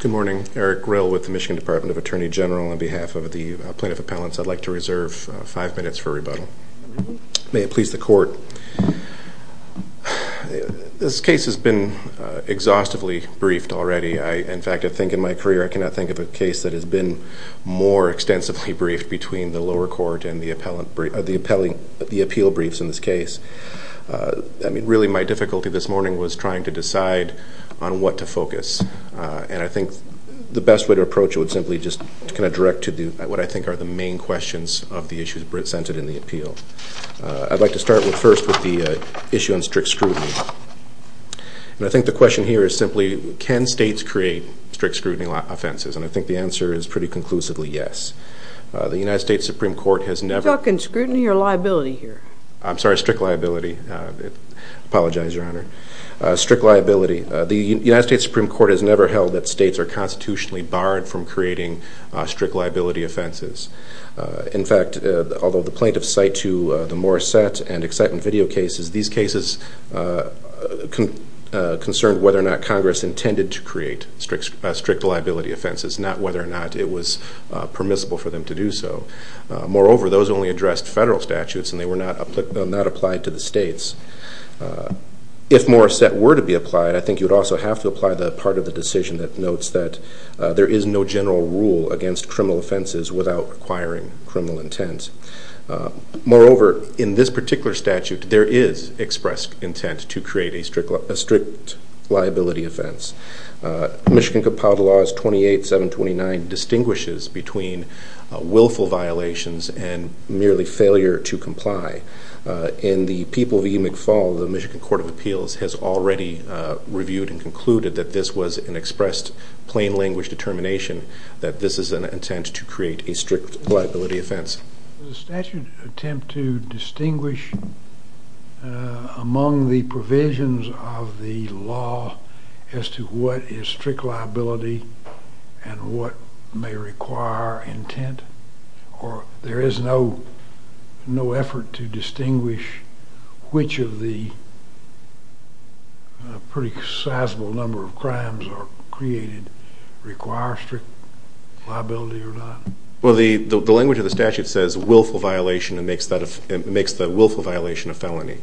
Good morning. Eric Rill with the Michigan Department of Attorney General. On behalf of the plaintiff appellants, I'd like to reserve five minutes for rebuttal. May it please the This case has been exhaustively briefed already. In fact, I think in my career I cannot think of a case that has been more extensively briefed between the lower court and the appeal briefs in this case. I mean really my difficulty this morning was trying to decide on what to focus. And I think the best way to approach it would simply just kind of direct to what I think are the main questions of the issues presented in the appeal. I'd like to start with first with the issue on strict scrutiny. And I think the question here is simply can states create strict scrutiny offenses? And I think the answer is pretty conclusively yes. The United States Supreme Court has never Can you talk in scrutiny or liability here? I'm sorry, strict liability. I apologize, Your Honor. Strict liability. The United States Supreme Court has never held that states are constitutionally barred from creating strict These cases concerned whether or not Congress intended to create strict liability offenses, not whether or not it was permissible for them to do so. Moreover, those only addressed federal statutes and they were not applied to the states. If more set were to be applied, I think you'd also have to apply the part of the decision that notes that there is no general rule against criminal offenses without acquiring criminal intent. Moreover, in this particular statute, there is expressed intent to create a strict liability offense. Michigan Compound Laws 28-729 distinguishes between willful violations and merely failure to comply. In the People v. McFaul, the Michigan Court of Appeals has already reviewed and concluded that this was an expressed plain language determination that this is an intent to create a strict liability offense. Does the statute attempt to distinguish among the provisions of the law as to what is strict liability and what may require intent? Or there is no effort to distinguish which of the pretty sizable number of crimes are created require strict liability or not? Well, the language of the statute says willful violation and makes the willful violation a felony.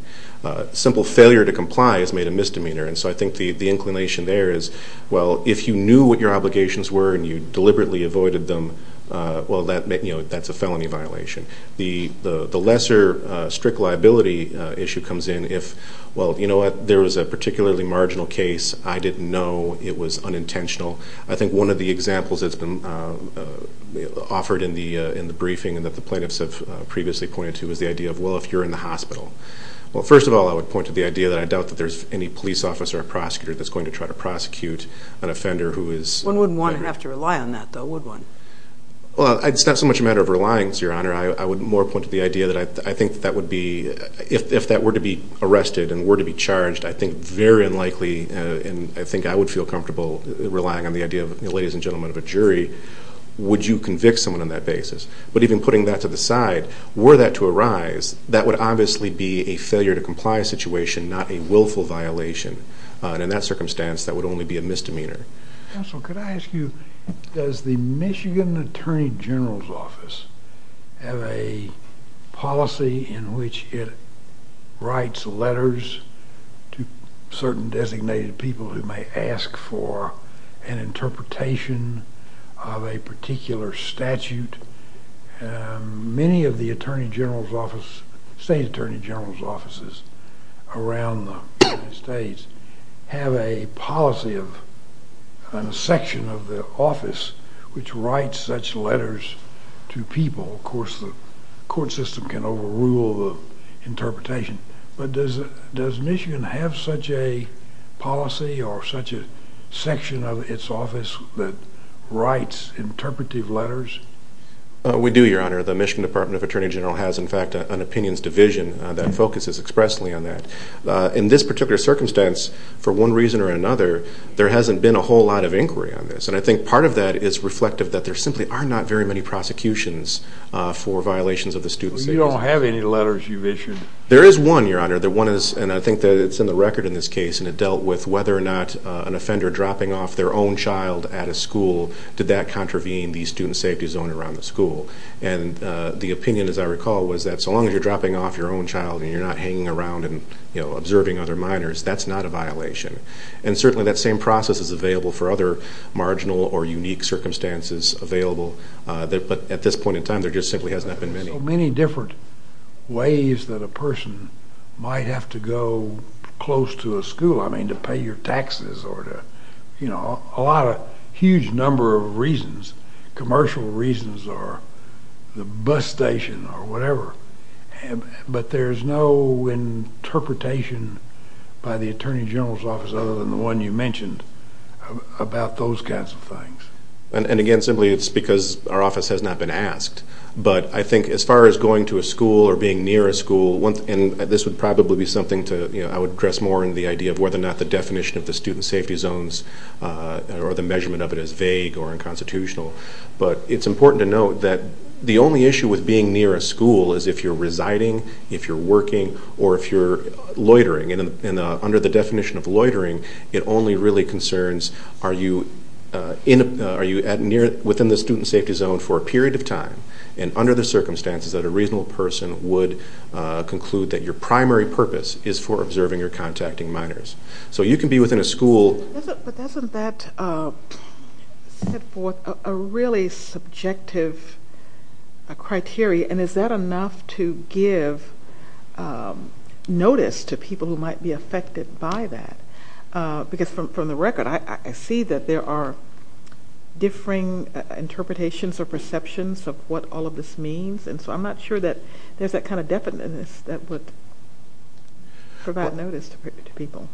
Simple failure to comply is made a misdemeanor. So I think the inclination there is, well, if you knew what your obligations were and you deliberately avoided them, well, that's a felony violation. The lesser strict liability issue comes in if, well, you know what, there was a particularly marginal case. I didn't know it was unintentional. I think one of the examples that's been offered in the briefing and that the plaintiffs have previously pointed to is the idea of, well, if you're in the hospital. Well, first of all, I would point to the idea that I doubt that there's any police officer or prosecutor that's going to try to prosecute an offender who is... One wouldn't want to have to rely on that, though, would one? Well, it's not so much a matter of relying, Your Honor. I would more point to the idea that I think that would be, if that were to be arrested and were to be charged, I think very unlikely, and I think I would feel comfortable relying on the idea of, ladies and gentlemen of a jury, would you convict someone on that basis? But even putting that to the side, were that to arise, that would obviously be a failure to comply situation, not a willful violation. And in that circumstance, that would only be a misdemeanor. Counsel, could I ask you, does the Michigan Attorney General's Office have a policy in which it writes letters to certain designated people who may ask for an interpretation of a particular statute? Many of the Attorney General's Office, State Attorney General's Offices around the United States have a policy of a section of the office which writes such a letter of interpretation. But does Michigan have such a policy or such a section of its office that writes interpretive letters? We do, Your Honor. The Michigan Department of Attorney General has, in fact, an Opinions Division that focuses expressly on that. In this particular circumstance, for one reason or another, there hasn't been a whole lot of inquiry on this. And I think part of that is reflective that there simply are not very many prosecutions for violations of the student status. You don't have any letters you've issued? There is one, Your Honor. And I think that it's in the record in this case. And it dealt with whether or not an offender dropping off their own child at a school, did that contravene the student safety zone around the school. And the opinion, as I recall, was that so long as you're dropping off your own child and you're not hanging around and observing other minors, that's not a violation. And certainly, that same process is available for other marginal or unique circumstances available. But at this point in time, there just simply has not been many. There are so many different ways that a person might have to go close to a school, I mean, to pay your taxes or to, you know, a lot of, a huge number of reasons, commercial reasons or the bus station or whatever. But there's no interpretation by the Attorney General's Office, other than the one you mentioned, about those kinds of things. And again, simply it's because our office has not been asked. But I think as far as going to a school or being near a school, and this would probably be something to, you know, I would address more in the idea of whether or not the definition of the student safety zones or the measurement of it is vague or unconstitutional. But it's important to note that the only issue with being near a school is if you're residing, if you're working, or if you're loitering. And under the definition of loitering, it only really concerns are you in, are you at near, within the student safety zone for a period of time, and under the circumstances that a reasonable person would conclude that your primary purpose is for observing or contacting minors. So you can be within a school. But doesn't that set forth a really subjective criteria, and is that enough to give notice to people who might be affected by that? Because from the record, I see that there are differing interpretations or perceptions of what all of this means, and so I'm not sure that there's that kind of definiteness that would provide notice to people.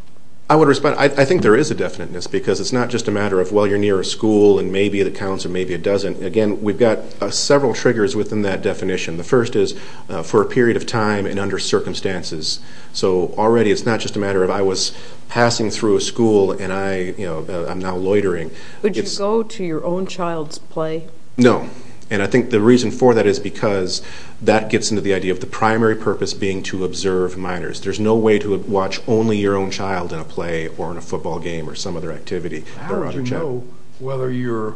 I would respond, I think there is a definiteness because it's not just a matter of, well, you're near a school and maybe it counts or maybe it doesn't. Again, we've got several triggers within that definition. The first is for a period of time and under circumstances. So already it's not just a matter of I was passing through a school and I'm now loitering. Would you go to your own child's play? No. And I think the reason for that is because that gets into the idea of the primary purpose being to observe minors. There's no way to watch only your own child in a play or in a football game or some other activity. How would you know whether you're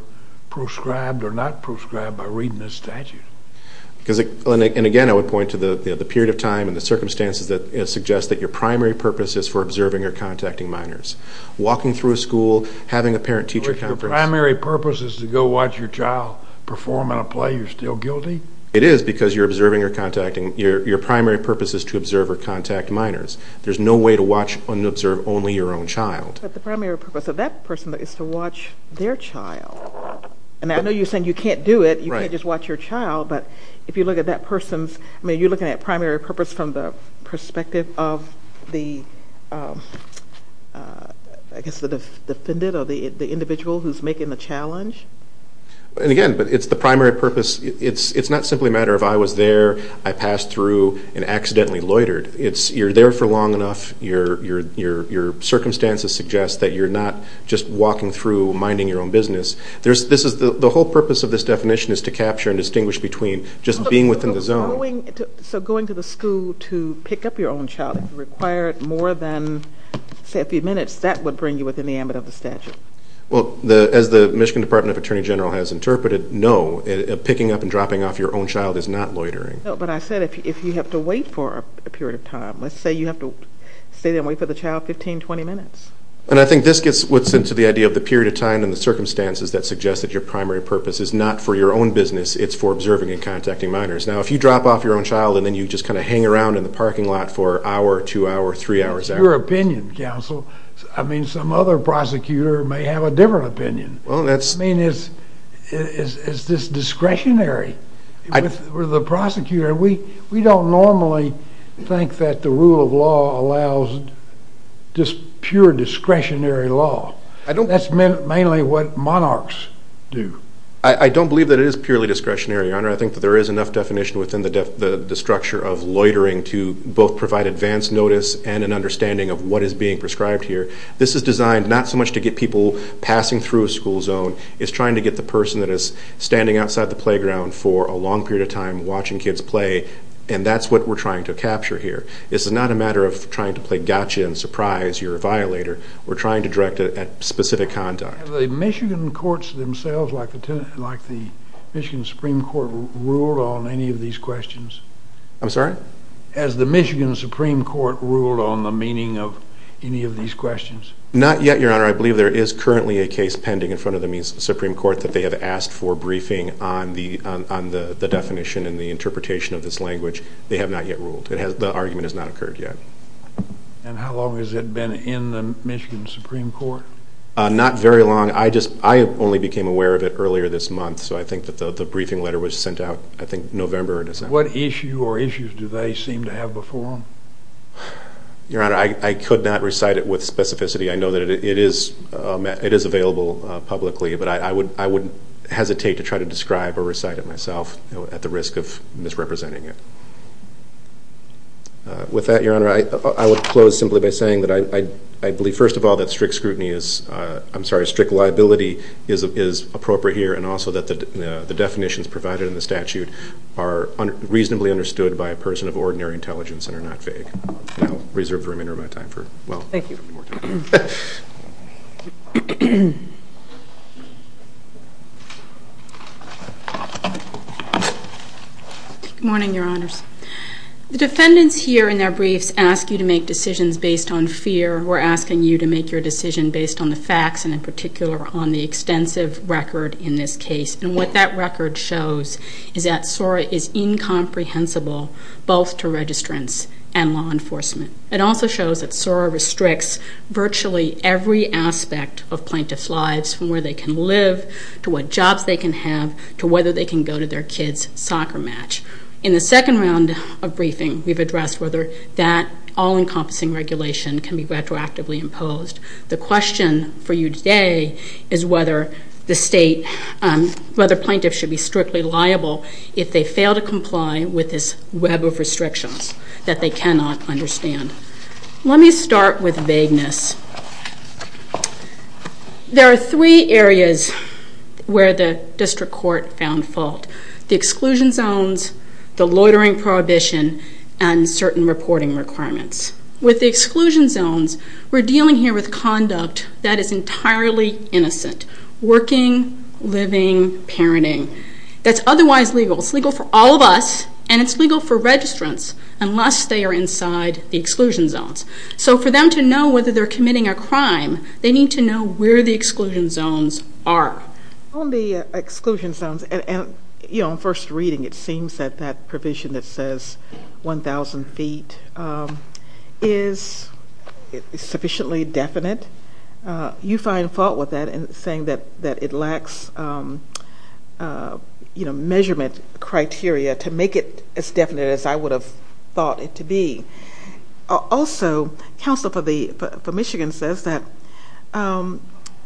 prescribed or not prescribed by reading this statute? And again, I would point to the period of time and the circumstances that suggest that your primary purpose is for observing or contacting minors. Walking through a school, having a parent-teacher conference. If your primary purpose is to go watch your child perform in a play, you're still guilty? It is because your primary purpose is to observe or contact minors. There's no way to watch and observe only your own child. But the primary purpose of that person is to watch their child. And I know you're saying you can't do it, you can't just watch your child, but if you look at that person's, I mean, are you looking at primary purpose from the perspective of the, I guess the defendant or the individual who's making the challenge? And again, but it's the primary purpose, it's not simply a matter of I was there, I passed through, and accidentally loitered. You're there for long enough, your circumstances suggest that you're not just walking through, minding your own business. The whole purpose of this definition is to capture and distinguish between just being within the zone. So going to the school to pick up your own child, if it required more than, say, a few minutes, that would bring you within the ambit of the statute? As the Michigan Department of Attorney General has interpreted, no, picking up and dropping off your own child is not loitering. No, but I said if you have to wait for a period of time, let's say you have to stay there and wait for the child 15, 20 minutes. And I think this gets what's into the idea of the period of time and the circumstances that suggest that your primary purpose is not for your own business, it's for observing and contacting minors. Now, if you drop off your own child and then you just kind of hang around in the parking lot for an hour, two hours, three hours. It's your opinion, counsel. I mean, some other prosecutor may have a different opinion. I mean, is this discretionary? With the prosecutor, we don't normally think that the rule of law allows just pure discretionary law. That's mainly what monarchs do. I don't believe that it is purely discretionary, Your Honor. I think that there is enough definition within the structure of loitering to both provide advance notice and an understanding of what is being prescribed here. This is designed not so much to get people passing through a school zone, it's trying to get the person that is standing outside the playground for a long period of time watching kids play, and that's what we're trying to capture here. This is not a matter of trying to play gotcha and surprise, you're a violator. We're trying to direct it at specific conduct. Have the Michigan courts themselves, like the Michigan Supreme Court, ruled on any of these questions? I'm sorry? Has the Michigan Supreme Court ruled on the meaning of any of these questions? Not yet, Your Honor. I believe there is currently a case pending in front of the Michigan Supreme Court that they have asked for a briefing on the definition and the interpretation of this language. They have not yet ruled. The argument has not occurred yet. And how long has it been in the Michigan Supreme Court? Not very long. I only became aware of it earlier this month, so I think that the briefing letter was sent out, I think, November or December. What issue or issues do they seem to have before them? Your Honor, I could not recite it with specificity. I know that it is available publicly, but I wouldn't hesitate to try to describe or recite it myself at the risk of misrepresenting it. With that, Your Honor, I would close simply by saying that I believe, first of all, that strict scrutiny is, I'm sorry, strict liability is appropriate here, and also that the definitions provided in the statute are reasonably understood by a person of ordinary intelligence and are not vague. And I'll reserve the remainder of my time for, well, I don't have any more time. Good morning, Your Honors. The defendants here, in their briefs, ask you to make decisions based on fear. We're asking you to make your decision based on the facts and, in particular, on the extensive record in this case. And what that record shows is that SORA is incomprehensible both to registrants and law enforcement. It also shows that SORA restricts virtually every aspect of plaintiff's lives, from where they can live, to what jobs they can have, to whether they can go to their kid's soccer match. In the second round of briefing, we've addressed whether that all-encompassing regulation can be retroactively imposed. The question for you today is whether the State, whether plaintiffs should be strictly liable if they fail to comply with this web of restrictions that they cannot understand. Let me start with vagueness. There are three areas where the District Court found fault. The exclusion zones, the loitering prohibition, and certain reporting requirements. With the exclusion zones, we're dealing here with conduct that is entirely innocent. Working, living, parenting. That's otherwise legal. It's legal for all of us, and it's legal for registrants unless they are inside the exclusion zones. So for them to know whether they're committing a crime, they need to know where the exclusion zones are. On the exclusion zones, and, you know, on first reading, it seems that that provision that says 1,000 feet is sufficiently definite. You find fault with that in saying that it lacks, you know, measurement criteria to make it as definite as I would have thought it to be. Also, counsel for Michigan says that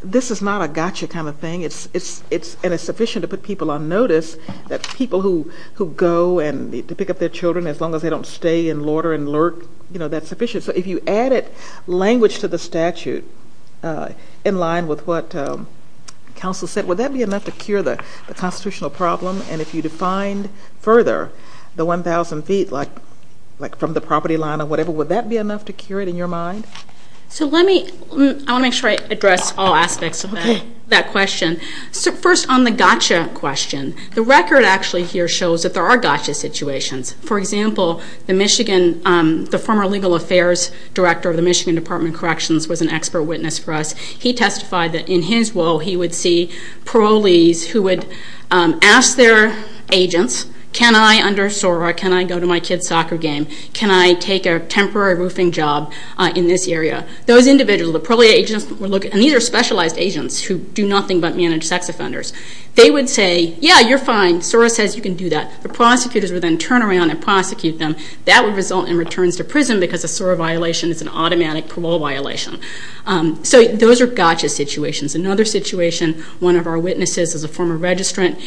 this is not a gotcha kind of thing, and it's sufficient to put people on notice, that people who go and need to pick up their children as long as they don't stay and loiter and lurk, you know, that's sufficient. So if you added language to the statute in line with what counsel said, would that be enough to cure the constitutional problem? And if you defined further the 1,000 feet, like from the property line or whatever, would that be enough to cure it in your mind? So let me, I want to make sure I address all aspects of that question. First, on the gotcha question, the record actually here shows that there are gotcha situations. For example, the Michigan, the former Legal Affairs Director of the Michigan Department of Corrections was an expert witness for us. He testified that in his role, he would see parolees who would ask their agents, can I, under SORA, can I go to my kid's soccer game? Can I take a temporary roofing job in this area? Those individuals, the parolee agents were looking, and these are specialized agents who do nothing but manage sex offenders. They would say, yeah, you're fine. SORA says you can do that. The prosecutors would then turn around and arrest them. That would result in returns to prison because a SORA violation is an automatic parole violation. So those are gotcha situations. Another situation, one of our witnesses is a former registrant.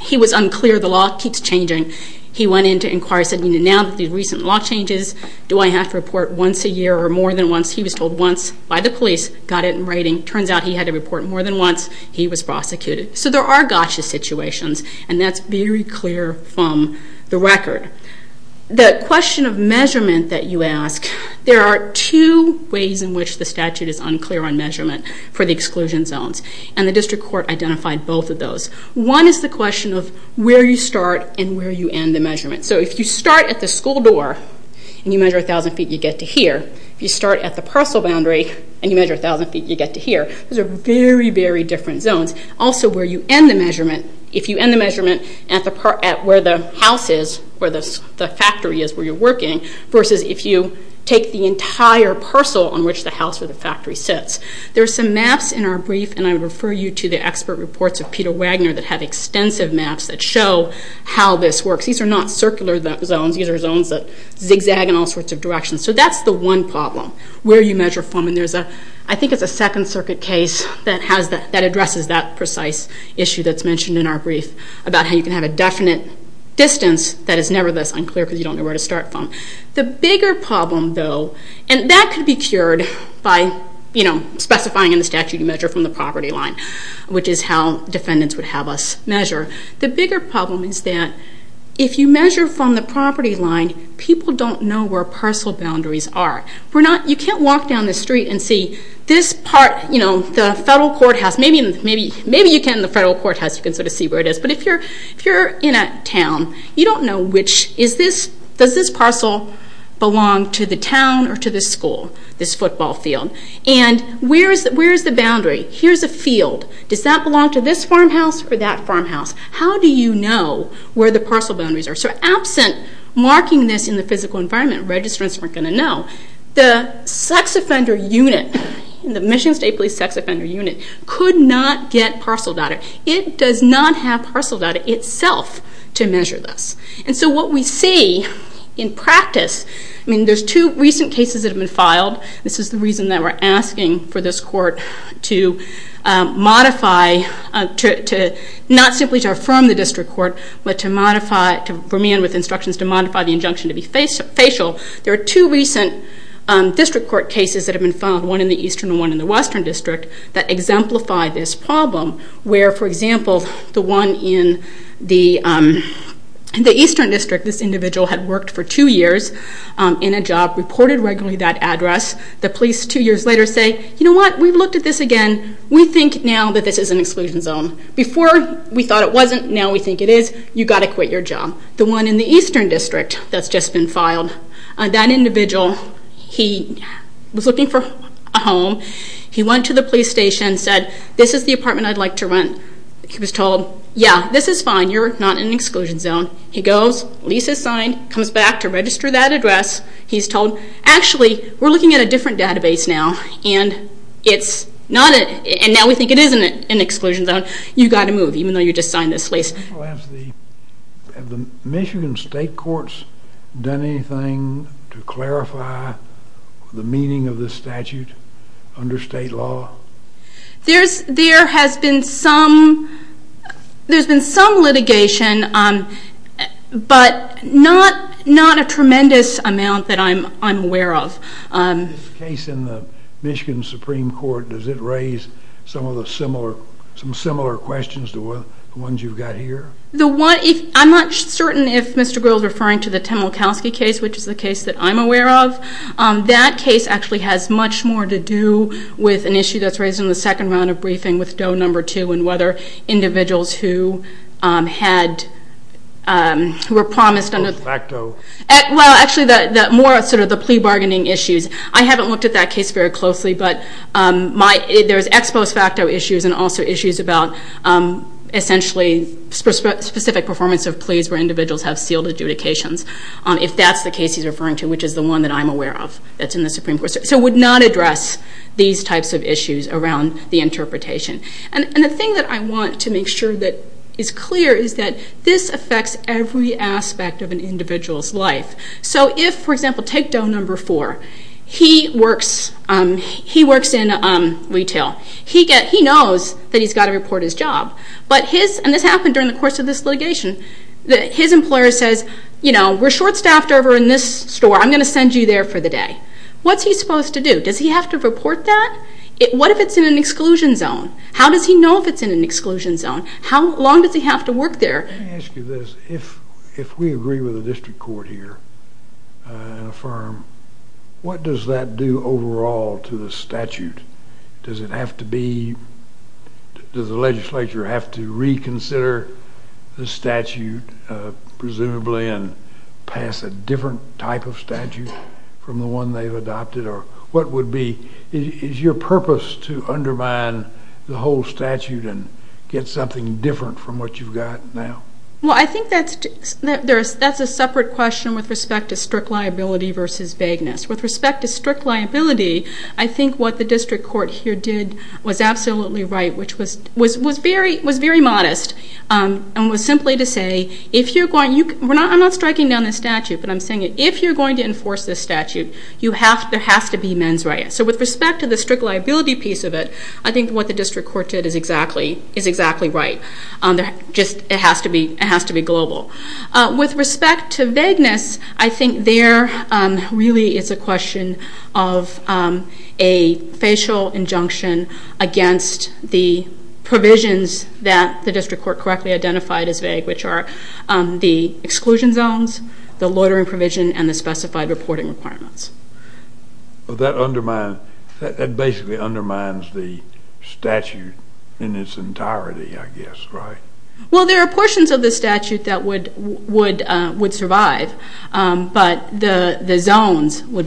He was unclear. The law keeps changing. He went in to inquire, said, now that the recent law changes, do I have to report once a year or more than once? He was told once by the police, got it in writing. Turns out he had to report more than once. He was prosecuted. So there are gotcha situations, and that's very clear from the record. The question of measurement that you ask, there are two ways in which the statute is unclear on measurement for the exclusion zones, and the district court identified both of those. One is the question of where you start and where you end the measurement. So if you start at the school door and you measure 1,000 feet, you get to here. If you start at the parcel where you end the measurement, if you end the measurement at where the house is, where the factory is where you're working, versus if you take the entire parcel on which the house or the factory sits. There are some maps in our brief, and I would refer you to the expert reports of Peter Wagner that have extensive maps that show how this works. These are not circular zones. These are zones that zigzag in all sorts of directions. So that's the one problem, where you measure from, and there's a, I think it's a Second Circuit case that addresses that precise issue that's mentioned in our brief about how you can have a definite distance that is never thus unclear because you don't know where to start from. The bigger problem though, and that could be cured by specifying in the statute you measure from the property line, which is how defendants would have us measure. The bigger problem is that if you measure from the property line, people don't know where parcel boundaries are. You can't walk down the street and see this part, the federal courthouse, maybe you can in the federal courthouse, you can sort of see where it is, but if you're in a town, you don't know which, does this parcel belong to the town or to this school, this football field, and where's the boundary? Here's a field. Does that belong to this farmhouse or that farmhouse? How do you know where the parcel boundaries are? So absent marking this in the physical environment, registrants weren't going to know. The sex offender unit, the Michigan State Police sex offender unit, could not get parcel data. It does not have parcel data itself to measure this. And so what we see in practice, I mean there's two recent cases that have been filed. This is the reason that we're asking for this court to modify, not simply to affirm the district court, but to modify, to remain with instructions to modify the injunction to be facial. There are two recent district court cases that have been filed, one in the Eastern and one in the Western District, that exemplify this problem where, for example, the one in the Eastern District, this individual had worked for two years in a job, reported regularly that address. The police two years later say, you know what, we've looked at this again. We think now that this is an exclusion zone. Before we thought it wasn't, now we think it is. You've got to quit your job. The one in the Eastern District that's just been filed, that individual, he was looking for a home. He went to the police station and said, this is the apartment I'd like to rent. He was told, yeah, this is fine. You're not in an exclusion zone. He goes, lease is signed, comes back to register that address. He's told, actually, we're looking at a different database now, and now we think it is an exclusion zone. You've got to move, even though you haven't. Have Michigan state courts done anything to clarify the meaning of this statute under state law? There has been some litigation, but not a tremendous amount that I'm aware of. In this case in the Michigan Supreme Court, does it raise some similar questions to the ones you've got here? I'm not certain if Mr. Greel is referring to the Temelkowski case, which is the case that I'm aware of. That case actually has much more to do with an issue that's raised in the second round of briefing with Doe number two, and whether individuals who were promised under the plea bargaining issues. I haven't looked at that case very closely, but there's ex post facto issues, and also issues about, essentially, specific performance of pleas where individuals have sealed adjudications, if that's the case he's referring to, which is the one that I'm aware of that's in the Supreme Court. So it would not address these types of issues around the interpretation. And the thing that I want to make sure that is clear is that this affects every aspect of an individual's life. So if, for example, take Doe number four. He works in retail. He knows that he's got to report his job, but his... And this happened during the course of this litigation. His employer says, you know, we're short staffed over in this store. I'm going to send you there for the day. What's he supposed to do? Does he have to report that? What if it's in an exclusion zone? How does he know if it's in an exclusion zone? How long does he have to work there? Let me ask you this. If we agree with the district court here and affirm, what does that do overall to the statute? Does it have to be... Does the legislature have to reconsider the statute, presumably, and pass a different type of statute from the one they've adopted? What would be... Is your purpose to undermine the whole statute and get something different from what you've got now? Well, I think that's a separate question with respect to strict liability versus vagueness. With respect to strict liability, I think what the district court here did was absolutely right, which was very modest and was simply to say, if you're going... I'm not striking down the statute, but I'm saying if you're going to enforce this statute, there has to be mens rea. So with respect to the strict liability piece of it, I think what the district court did is exactly right. It has to be global. With respect to vagueness, I think there really is a question of a facial injunction against the provisions that the district court correctly identified as vague, which are the exclusion zones, the loitering provision, and the specified reporting requirements. Well, that undermines... That basically undermines the statute in its entirety, I guess, right? Well, there are portions of the statute that would survive, but the zones would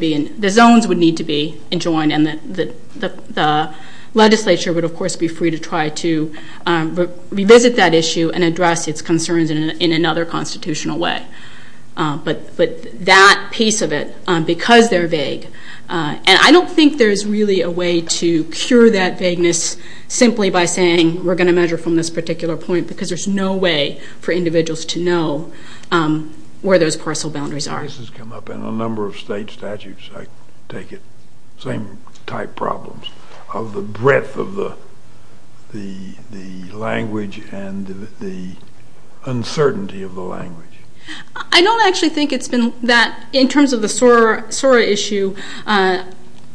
need to be enjoined, and the legislature would, of course, be free to try to revisit that issue and address its concerns in another constitutional way. But that piece of it, because they're vague, and I don't think there's really a way to cure that vagueness simply by saying, we're going to measure from this particular point, because there's no way for individuals to know where those parcel boundaries are. This has come up in a number of state statutes, I take it, same type problems, of the breadth of the language and the uncertainty of the language. I don't actually think it's been that... In terms of the SORA issue,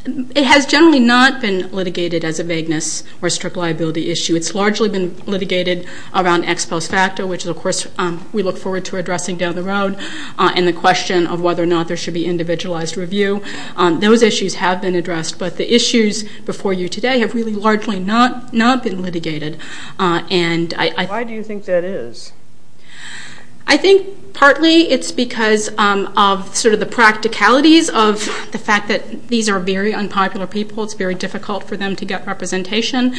it has generally not been litigated as a vagueness or strict liability issue. It's largely been litigated around ex post facto, which, of course, we look forward to addressing down the road, and the question of whether or not there should be individualized review. Those issues have been addressed, but the issues before you today have really largely not been litigated, and I... Why do you think that is? I think partly it's because of the practicalities of the fact that these are very unpopular people. It's very difficult for them to get representation.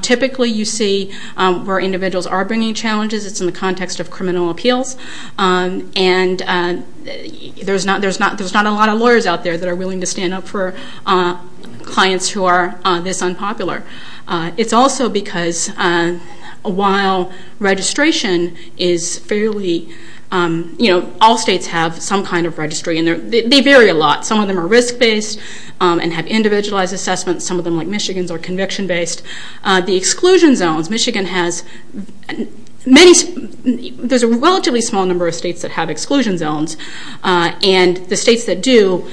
Typically, you see where individuals are bringing challenges. It's in the context of criminal appeals, and there's not a lot of lawyers out there that are willing to stand up for clients who are this unpopular. It's also because, while registration is fairly... All states have some kind of registry, and they vary a lot. Some of them are risk-based and have individualized assessments. Some of them, like Michigan's, are conviction-based. The exclusion zones, Michigan has many... There's a relatively small number of states that have exclusion zones, and the states that do,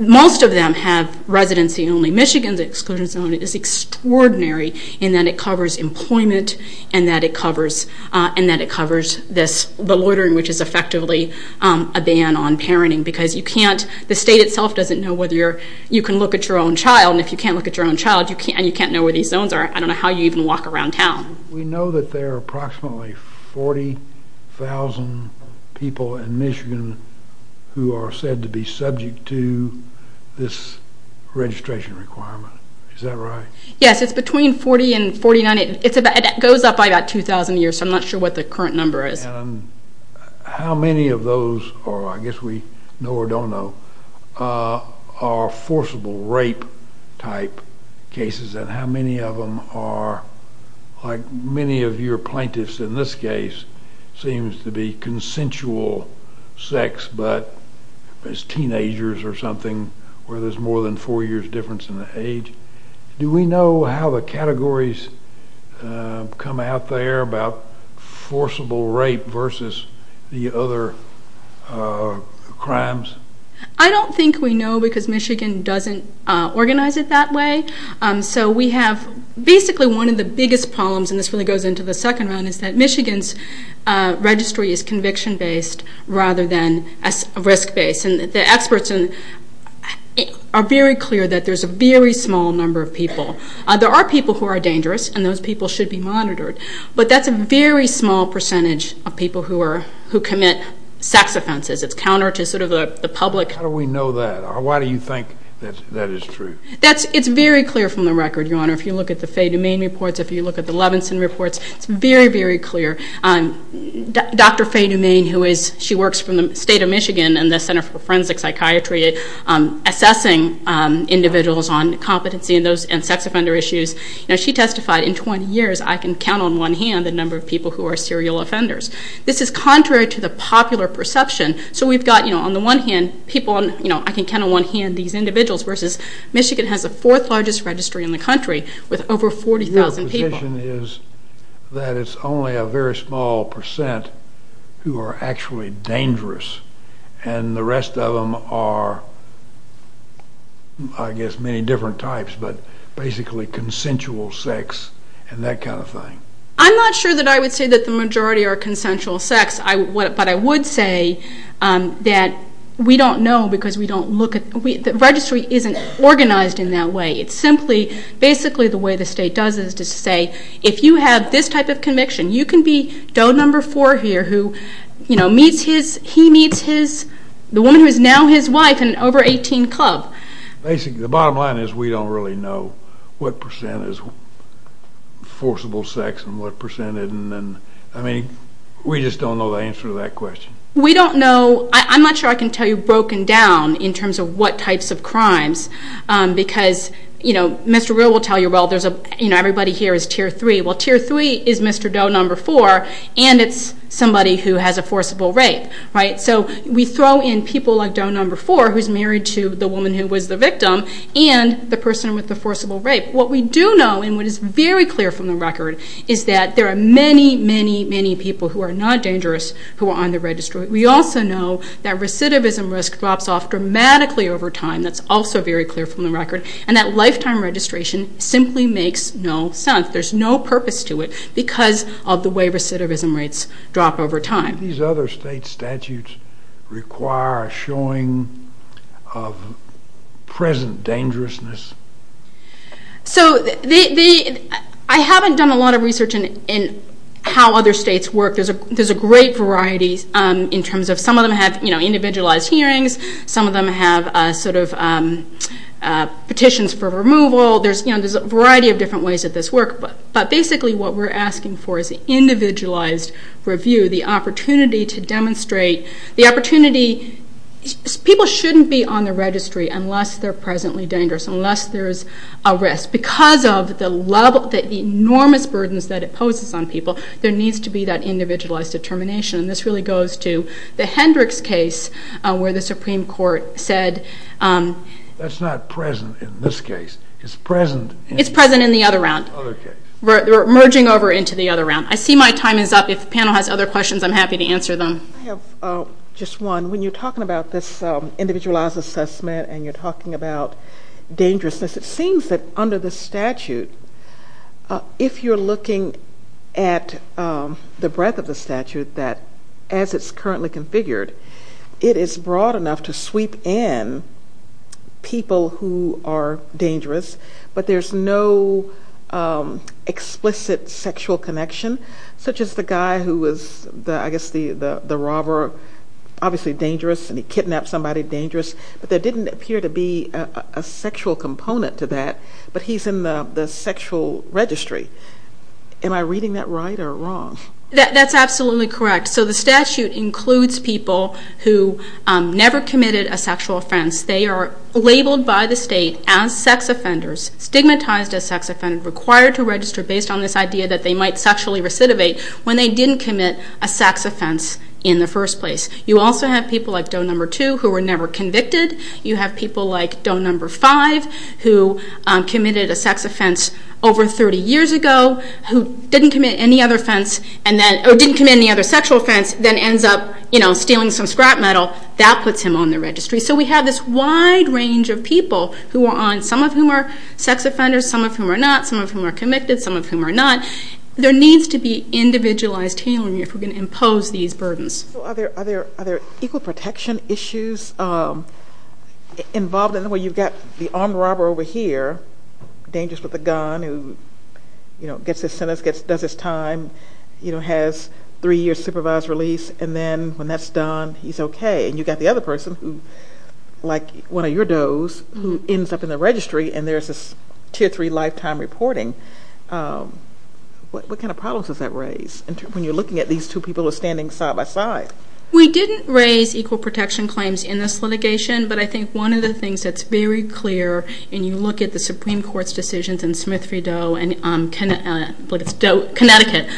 most of them have residency only. Michigan's exclusion zone is extraordinary in that it covers employment, and that it covers the loitering, which is effectively a ban on parenting, because you can't... The state itself doesn't know whether you can look at your own child, and if you can't look at your own child, and you can't know where these zones are, I don't know how you even walk around town. We know that there are approximately 40,000 people in Michigan who are said to be subject to this registration requirement. Is that right? Yes, it's between 40 and 49. It goes up by about 2,000 years, so I'm not sure what the current number is. How many of those, or I guess we know or don't know, are forcible rape type cases, and how many of your plaintiffs in this case seems to be consensual sex, but as teenagers or something where there's more than four years difference in the age. Do we know how the categories come out there about forcible rape versus the other crimes? I don't think we know, because Michigan doesn't organize it that way. We have basically one of the biggest problems, and this really goes into the second round, is that Michigan's registry is conviction-based rather than risk-based, and the experts are very clear that there's a very small number of people. There are people who are dangerous, and those people should be monitored, but that's a very small percentage of people who commit sex offenses. It's counter to sort of the public... How do we know that? Why do you think that is true? It's very clear from the record, Your Honor. If you look at the Faye DuMain reports, if you look at the Levinson reports, it's very, very clear. Dr. Faye DuMain, she works from the state of Michigan in the Center for Forensic Psychiatry, assessing individuals on competency and sex offender issues. She testified, in 20 years, I can count on one hand the number of people who are serial offenders. This is contrary to the popular perception, so we've it has the fourth largest registry in the country, with over 40,000 people. Your position is that it's only a very small percent who are actually dangerous, and the rest of them are, I guess, many different types, but basically consensual sex and that kind of thing. I'm not sure that I would say that the majority are consensual sex, but I would say that we don't know because we don't look at, the registry isn't organized in that way. It's simply, basically the way the state does it is to say, if you have this type of conviction, you can be Doe number four here who, you know, meets his, he meets his, the woman who is now his wife in an over 18 club. Basically, the bottom line is we don't really know what percent is forcible sex and what percent isn't. I mean, we just don't know the answer to that question. We don't know, I'm not sure I can tell you broken down in terms of what types of crimes because, you know, Mr. Rill will tell you, well, there's a, you know, everybody here is tier three. Well, tier three is Mr. Doe number four and it's somebody who has a forcible rape, right? So we throw in people like Doe number four who's married to the woman who was the victim and the person with the forcible rape. What we do know and what is very clear from the record is that there are many, many, many people who are not dangerous who are on the registry. We also know that recidivism risk drops off dramatically over time. That's also very clear from the record. And that lifetime registration simply makes no sense. There's no purpose to it because of the way recidivism rates drop over time. These other state statutes require a showing of present dangerousness. So, I haven't done a lot of research in how other states work. There's a great variety in terms of some of them have, you know, individualized hearings. Some of them have sort of petitions for removal. There's, you know, there's a variety of different ways that this works. But basically what we're asking for is an individualized review, the opportunity to demonstrate, the opportunity, people shouldn't be on the registry unless they're presently dangerous, unless there's a risk. Because of the enormous burdens that it poses on people, there needs to be that individualized determination. And this really goes to the Hendricks case where the Supreme Court said... That's not present in this case. It's present in... It's present in the other round. Other case. We're merging over into the other round. I see my time is up. If the panel has other questions, I'm happy to answer them. I have just one. When you're talking about this individualized assessment and you're talking about dangerousness, it seems that under the statute, if you're looking at the breadth of the statute, that as it's currently configured, it is broad enough to sweep in people who are dangerous, but there's no explicit sexual connection. Such as the guy who was, I guess, the robber, obviously dangerous, and he kidnapped somebody dangerous. But there didn't appear to be a sexual component to that, but he's in the sexual registry. Am I reading that right or wrong? That's absolutely correct. So the statute includes people who never committed a sexual offense. They are labeled by the state as sex offenders, stigmatized as sex offenders, required to recidivate when they didn't commit a sex offense in the first place. You also have people like Doe Number Two who were never convicted. You have people like Doe Number Five who committed a sex offense over 30 years ago, who didn't commit any other sexual offense, then ends up stealing some scrap metal. That puts him on the registry. So we have this wide range of people who are on, some of whom are sex offenders, some of whom are not, some of whom are convicted, some of whom are not. There needs to be individualized tailoring if we're going to impose these burdens. Are there equal protection issues involved in the way you've got the armed robber over here, dangerous with a gun, who gets his sentence, does his time, has three years supervised release, and then when that's done, he's okay, and you've got the other person who, like What kind of problems does that raise when you're looking at these two people who are standing side by side? We didn't raise equal protection claims in this litigation, but I think one of the things that's very clear, and you look at the Supreme Court's decisions and Smith v. Doe and Connecticut,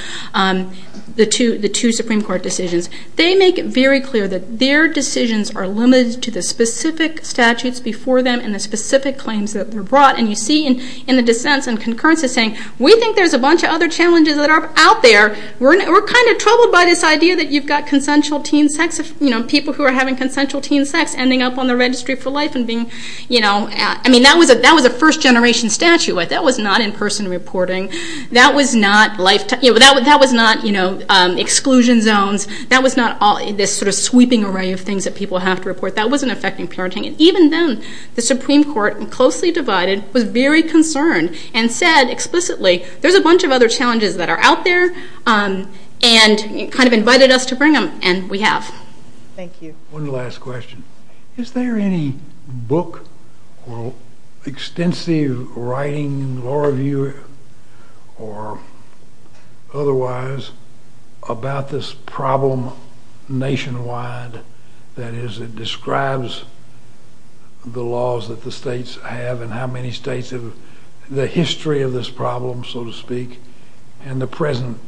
the two Supreme Court decisions, they make it very clear that their decisions are limited to the specific statutes before them and the specific claims that they're brought. And you see in the dissents and concurrences saying, we think there's a bunch of other challenges that are out there, we're kind of troubled by this idea that you've got consensual teen sex, people who are having consensual teen sex ending up on the registry for life and being, I mean, that was a first-generation statute, that was not in-person reporting, that was not life, that was not exclusion zones, that was not this sort of sweeping array of things that people have to report, that wasn't affecting parenting. Even then, the Supreme Court, closely divided, was very concerned and said explicitly, there's a bunch of other challenges that are out there, and kind of invited us to bring them, and we have. Thank you. One last question. Is there any book or extensive writing, law review or otherwise, about this problem nationwide that describes the laws that the states have and how many states have the history of this problem, so to speak, and the present,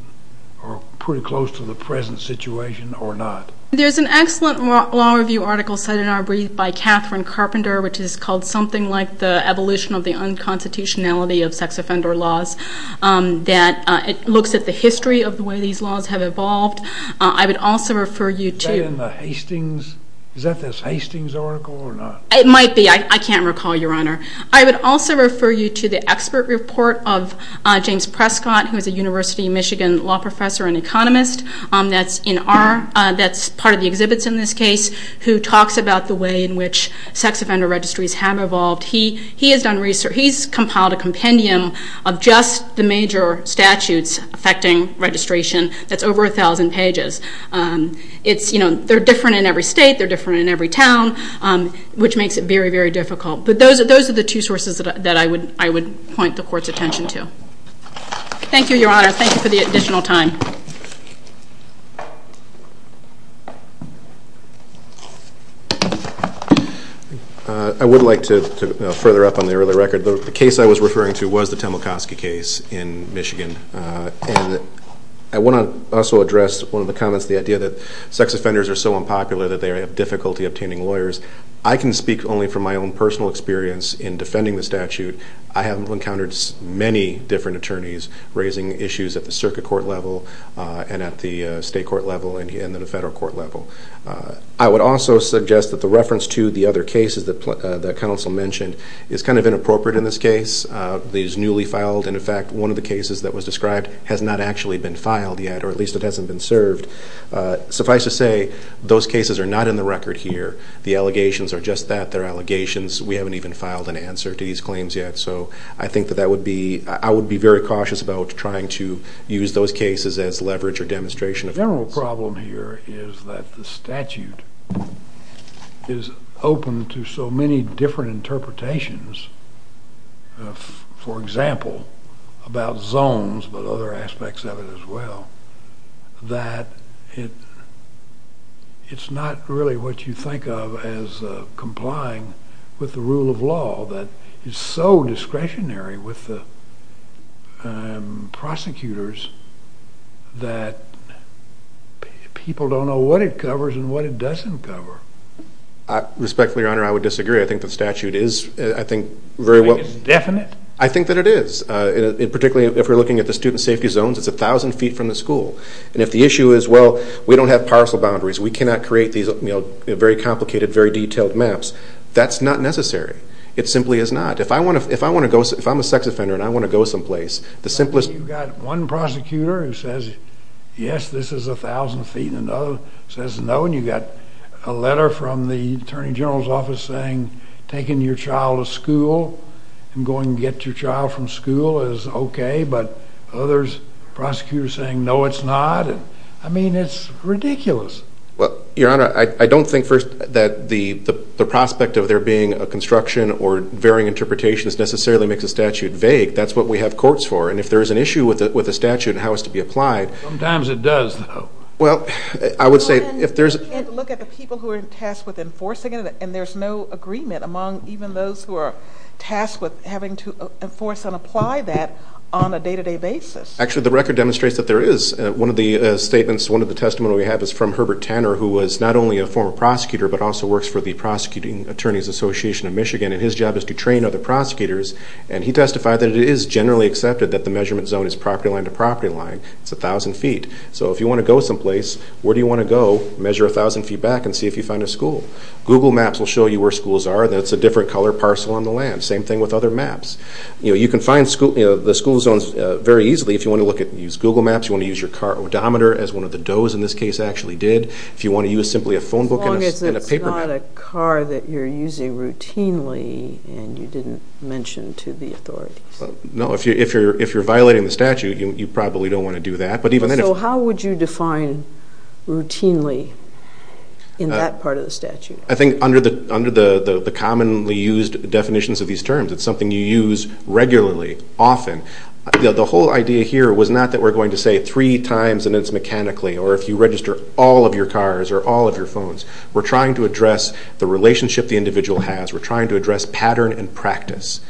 or pretty close to the present situation, or not? There's an excellent law review article cited in our brief by Catherine Carpenter, which is called something like the evolution of the unconstitutionality of sex offender laws, that looks at the history of the way these laws have evolved. I would also refer you to... Is that in the Hastings... Is that this Hastings article or not? It might be. I can't recall, Your Honor. I would also refer you to the expert report of James Prescott, who is a University of Michigan law professor and economist, that's part of the exhibits in this case, who talks about the way in which sex offender registries have evolved. He has compiled a compendium of just the major statutes affecting registration that's over a thousand pages. They're different in every state, they're different in every town, which makes it very, very difficult. But those are the two sources that I would point the Court's attention to. Thank you, Your Honor. Thank you for the additional time. I would like to further up on the early record. The case I was referring to was the Temelkoski case in Michigan. I want to also address one of the comments, the idea that sex offenders are so unpopular that they have difficulty obtaining lawyers. I can speak only from my own personal experience in defending the statute. I have encountered many different attorneys raising issues at the circuit court level and at the state court level and at the federal court level. I would also suggest that the reference to the other cases that counsel mentioned is kind of inappropriate in this case. It is newly filed, and in fact, one of the cases that was described has not actually been filed yet, or at least it hasn't been served. Suffice to say, those cases are not in the record here. The allegations are just that, they're allegations. We haven't even filed an answer to these claims yet. So I think that that would be, I would be very cautious about trying to use those cases as leverage or demonstration. The general problem here is that the statute is open to so many different interpretations, for example, about zones, but other aspects of it as well, that it's not really what you people don't know what it covers and what it doesn't cover. Respectfully, Your Honor, I would disagree. I think the statute is, I think, very well. You think it's definite? I think that it is, particularly if we're looking at the student safety zones, it's a thousand feet from the school, and if the issue is, well, we don't have parcel boundaries, we cannot create these, you know, very complicated, very detailed maps, that's not necessary. It simply is not. If I want to, if I want to go, if I'm a sex offender and I want to go someplace, the simplest You've got one prosecutor who says, yes, this is a thousand feet, and another says no, and you've got a letter from the Attorney General's office saying, taking your child to school and going to get your child from school is okay, but others, prosecutors saying, no, it's not. I mean, it's ridiculous. Well, Your Honor, I don't think, first, that the prospect of there being a construction or varying interpretations necessarily makes a statute vague. That's what we have courts for, and if there's an issue with the statute and how it's to be applied Sometimes it does, though. Well, I would say, if there's You have to look at the people who are tasked with enforcing it, and there's no agreement among even those who are tasked with having to enforce and apply that on a day-to-day basis. Actually, the record demonstrates that there is. One of the statements, one of the testimonies we have is from Herbert Tanner, who was not only a former prosecutor, but also works for the Prosecuting Attorneys Association of Michigan, and his job is to train other prosecutors, and he testified that it is generally accepted that the measurement zone is property line to property line. It's 1,000 feet. So, if you want to go someplace, where do you want to go, measure 1,000 feet back and see if you find a school? Google Maps will show you where schools are, and it's a different color parcel on the land. Same thing with other maps. You can find the school zones very easily if you want to look at, use Google Maps, you want to use your car odometer, as one of the Doe's in this case actually did. If you want to use simply a phone book and a paper map Not a car that you're using routinely, and you didn't mention to the authorities. No, if you're violating the statute, you probably don't want to do that, but even then So how would you define routinely in that part of the statute? I think under the commonly used definitions of these terms, it's something you use regularly, often. The whole idea here was not that we're going to say three times and it's mechanically, or if you register all of your cars or all of your phones. We're trying to address the relationship the individual has. We're trying to address pattern and practice.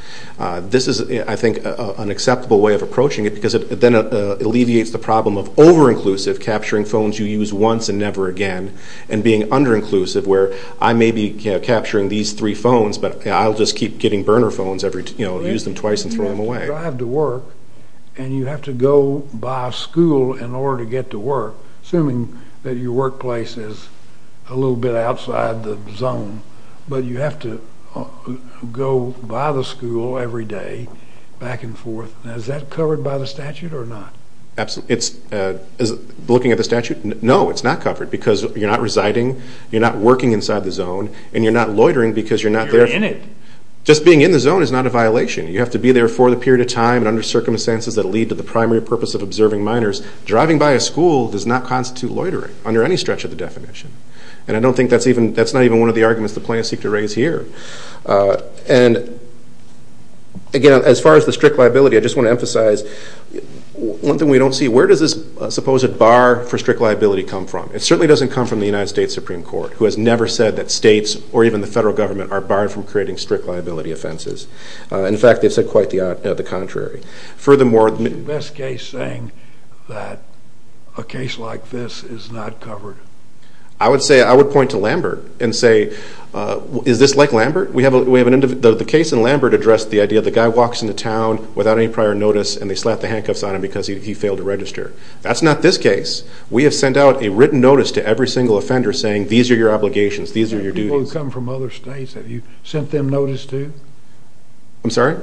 This is, I think, an acceptable way of approaching it, because it then alleviates the problem of over-inclusive, capturing phones you use once and never again, and being under-inclusive where I may be capturing these three phones, but I'll just keep getting burner phones, use them twice and throw them away. If you drive to work, and you have to go by school in order to get to work, assuming that your workplace is a little bit outside the zone, but you have to go by the school every day, back and forth, is that covered by the statute or not? Absolutely. Looking at the statute, no, it's not covered, because you're not residing, you're not working inside the zone, and you're not loitering because you're not there. You're in it. Just being in the zone is not a violation. You have to be there for the period of time, and under circumstances that lead to the primary purpose of observing minors, driving by a school does not constitute loitering under any stretch of the definition. And I don't think that's even, that's not even one of the arguments the plaintiffs seek to raise here. And again, as far as the strict liability, I just want to emphasize, one thing we don't see, where does this supposed bar for strict liability come from? It certainly doesn't come from the United States Supreme Court, who has never said that states or even the federal government are barred from creating strict liability offenses. In fact, they've said quite the contrary. Furthermore... Is the best case saying that a case like this is not covered? I would say, I would point to Lambert and say, is this like Lambert? We have an, the case in Lambert addressed the idea of the guy walks into town without any prior notice, and they slap the handcuffs on him because he failed to register. That's not this case. We have sent out a written notice to every single offender saying, these are your obligations, these are your duties. People who come from other states, have you sent them notice too? I'm sorry?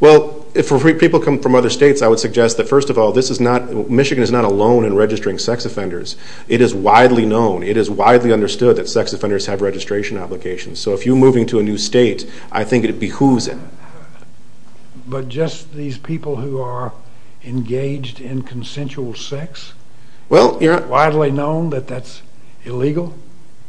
Well, if people come from other states, I would suggest that, first of all, this is not, Michigan is not alone in registering sex offenders. It is widely known, it is widely understood that sex offenders have registration obligations. So if you're moving to a new state, I think it behooves it. But just these people who are engaged in consensual sex? Well, you're not... Widely known that that's illegal?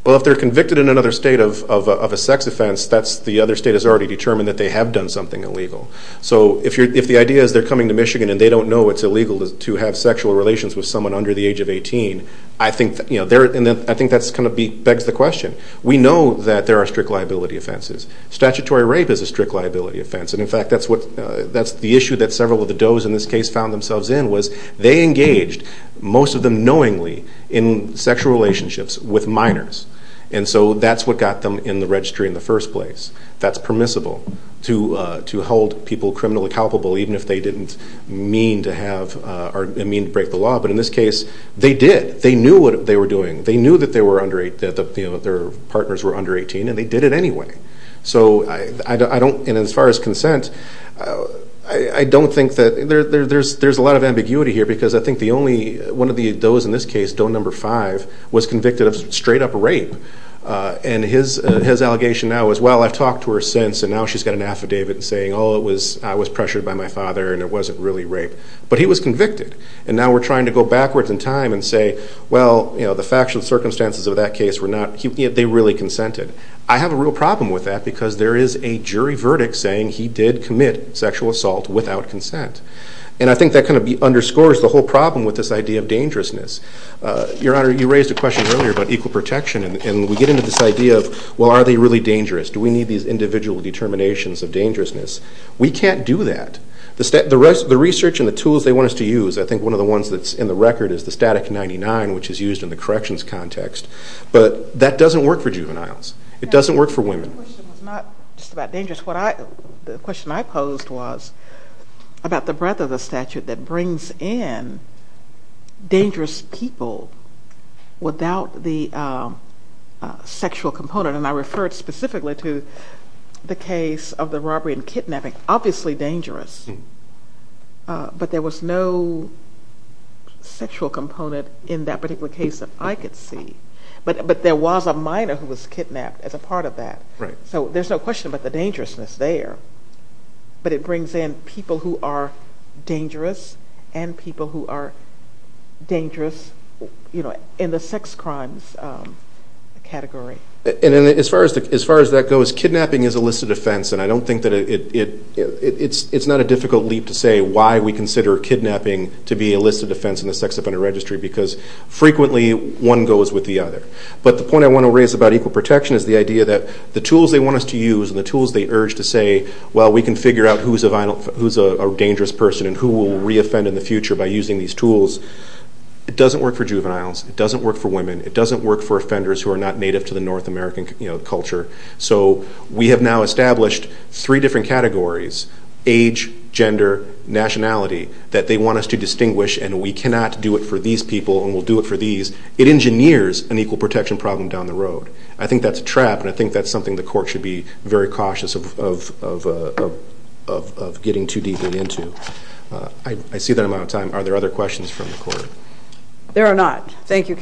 Well, if they're convicted in another state of a sex offense, that's, the other state has already determined that they have done something illegal. So if the idea is they're coming to Michigan and they don't know it's illegal to have sexual relations with someone under the age of 18, I think, you know, they're, I think that kind of begs the question. We know that there are strict liability offenses. Statutory rape is a strict liability offense, and in fact, that's what, that's the issue that several of the does in this case found themselves in, was they engaged, most of them minors. And so that's what got them in the registry in the first place. That's permissible to hold people criminally culpable, even if they didn't mean to have or mean to break the law, but in this case, they did. They knew what they were doing. They knew that they were under, that their partners were under 18, and they did it anyway. So I don't, and as far as consent, I don't think that, there's a lot of ambiguity here because I think the only, one of the does in this case, does number five, was convicted of straight up rape, and his allegation now is, well, I've talked to her since, and now she's got an affidavit saying, oh, it was, I was pressured by my father, and it wasn't really rape, but he was convicted. And now we're trying to go backwards in time and say, well, you know, the factual circumstances of that case were not, they really consented. I have a real problem with that because there is a jury verdict saying he did commit sexual assault without consent, and I think that kind of underscores the whole problem with this idea of dangerousness. Your Honor, you raised a question earlier about equal protection, and we get into this idea of, well, are they really dangerous? Do we need these individual determinations of dangerousness? We can't do that. The research and the tools they want us to use, I think one of the ones that's in the record is the static 99, which is used in the corrections context, but that doesn't work for juveniles. It doesn't work for women. My question was not just about dangerous, what I, the question I posed was about the statute that brings in dangerous people without the sexual component, and I referred specifically to the case of the robbery and kidnapping, obviously dangerous, but there was no sexual component in that particular case that I could see, but there was a minor who was kidnapped as a part of that. Right. So there's no question about the dangerousness there, but it brings in people who are dangerous and people who are dangerous, you know, in the sex crimes category. And as far as that goes, kidnapping is a listed offense, and I don't think that it, it's not a difficult leap to say why we consider kidnapping to be a listed offense in the sex offender registry because frequently one goes with the other, but the point I want to raise about equal protection is the idea that the tools they want us to use and the tools they urge to say, well, we can figure out who's a dangerous person and who will re-offend in the future by using these tools, it doesn't work for juveniles, it doesn't work for women, it doesn't work for offenders who are not native to the North American, you know, culture. So we have now established three different categories, age, gender, nationality, that they want us to distinguish and we cannot do it for these people and we'll do it for these. It engineers an equal protection problem down the road. I think that's a trap and I think that's something the court should be very cautious of getting too deeply into. I see that I'm out of time. Are there other questions from the court? There are not. Thank you.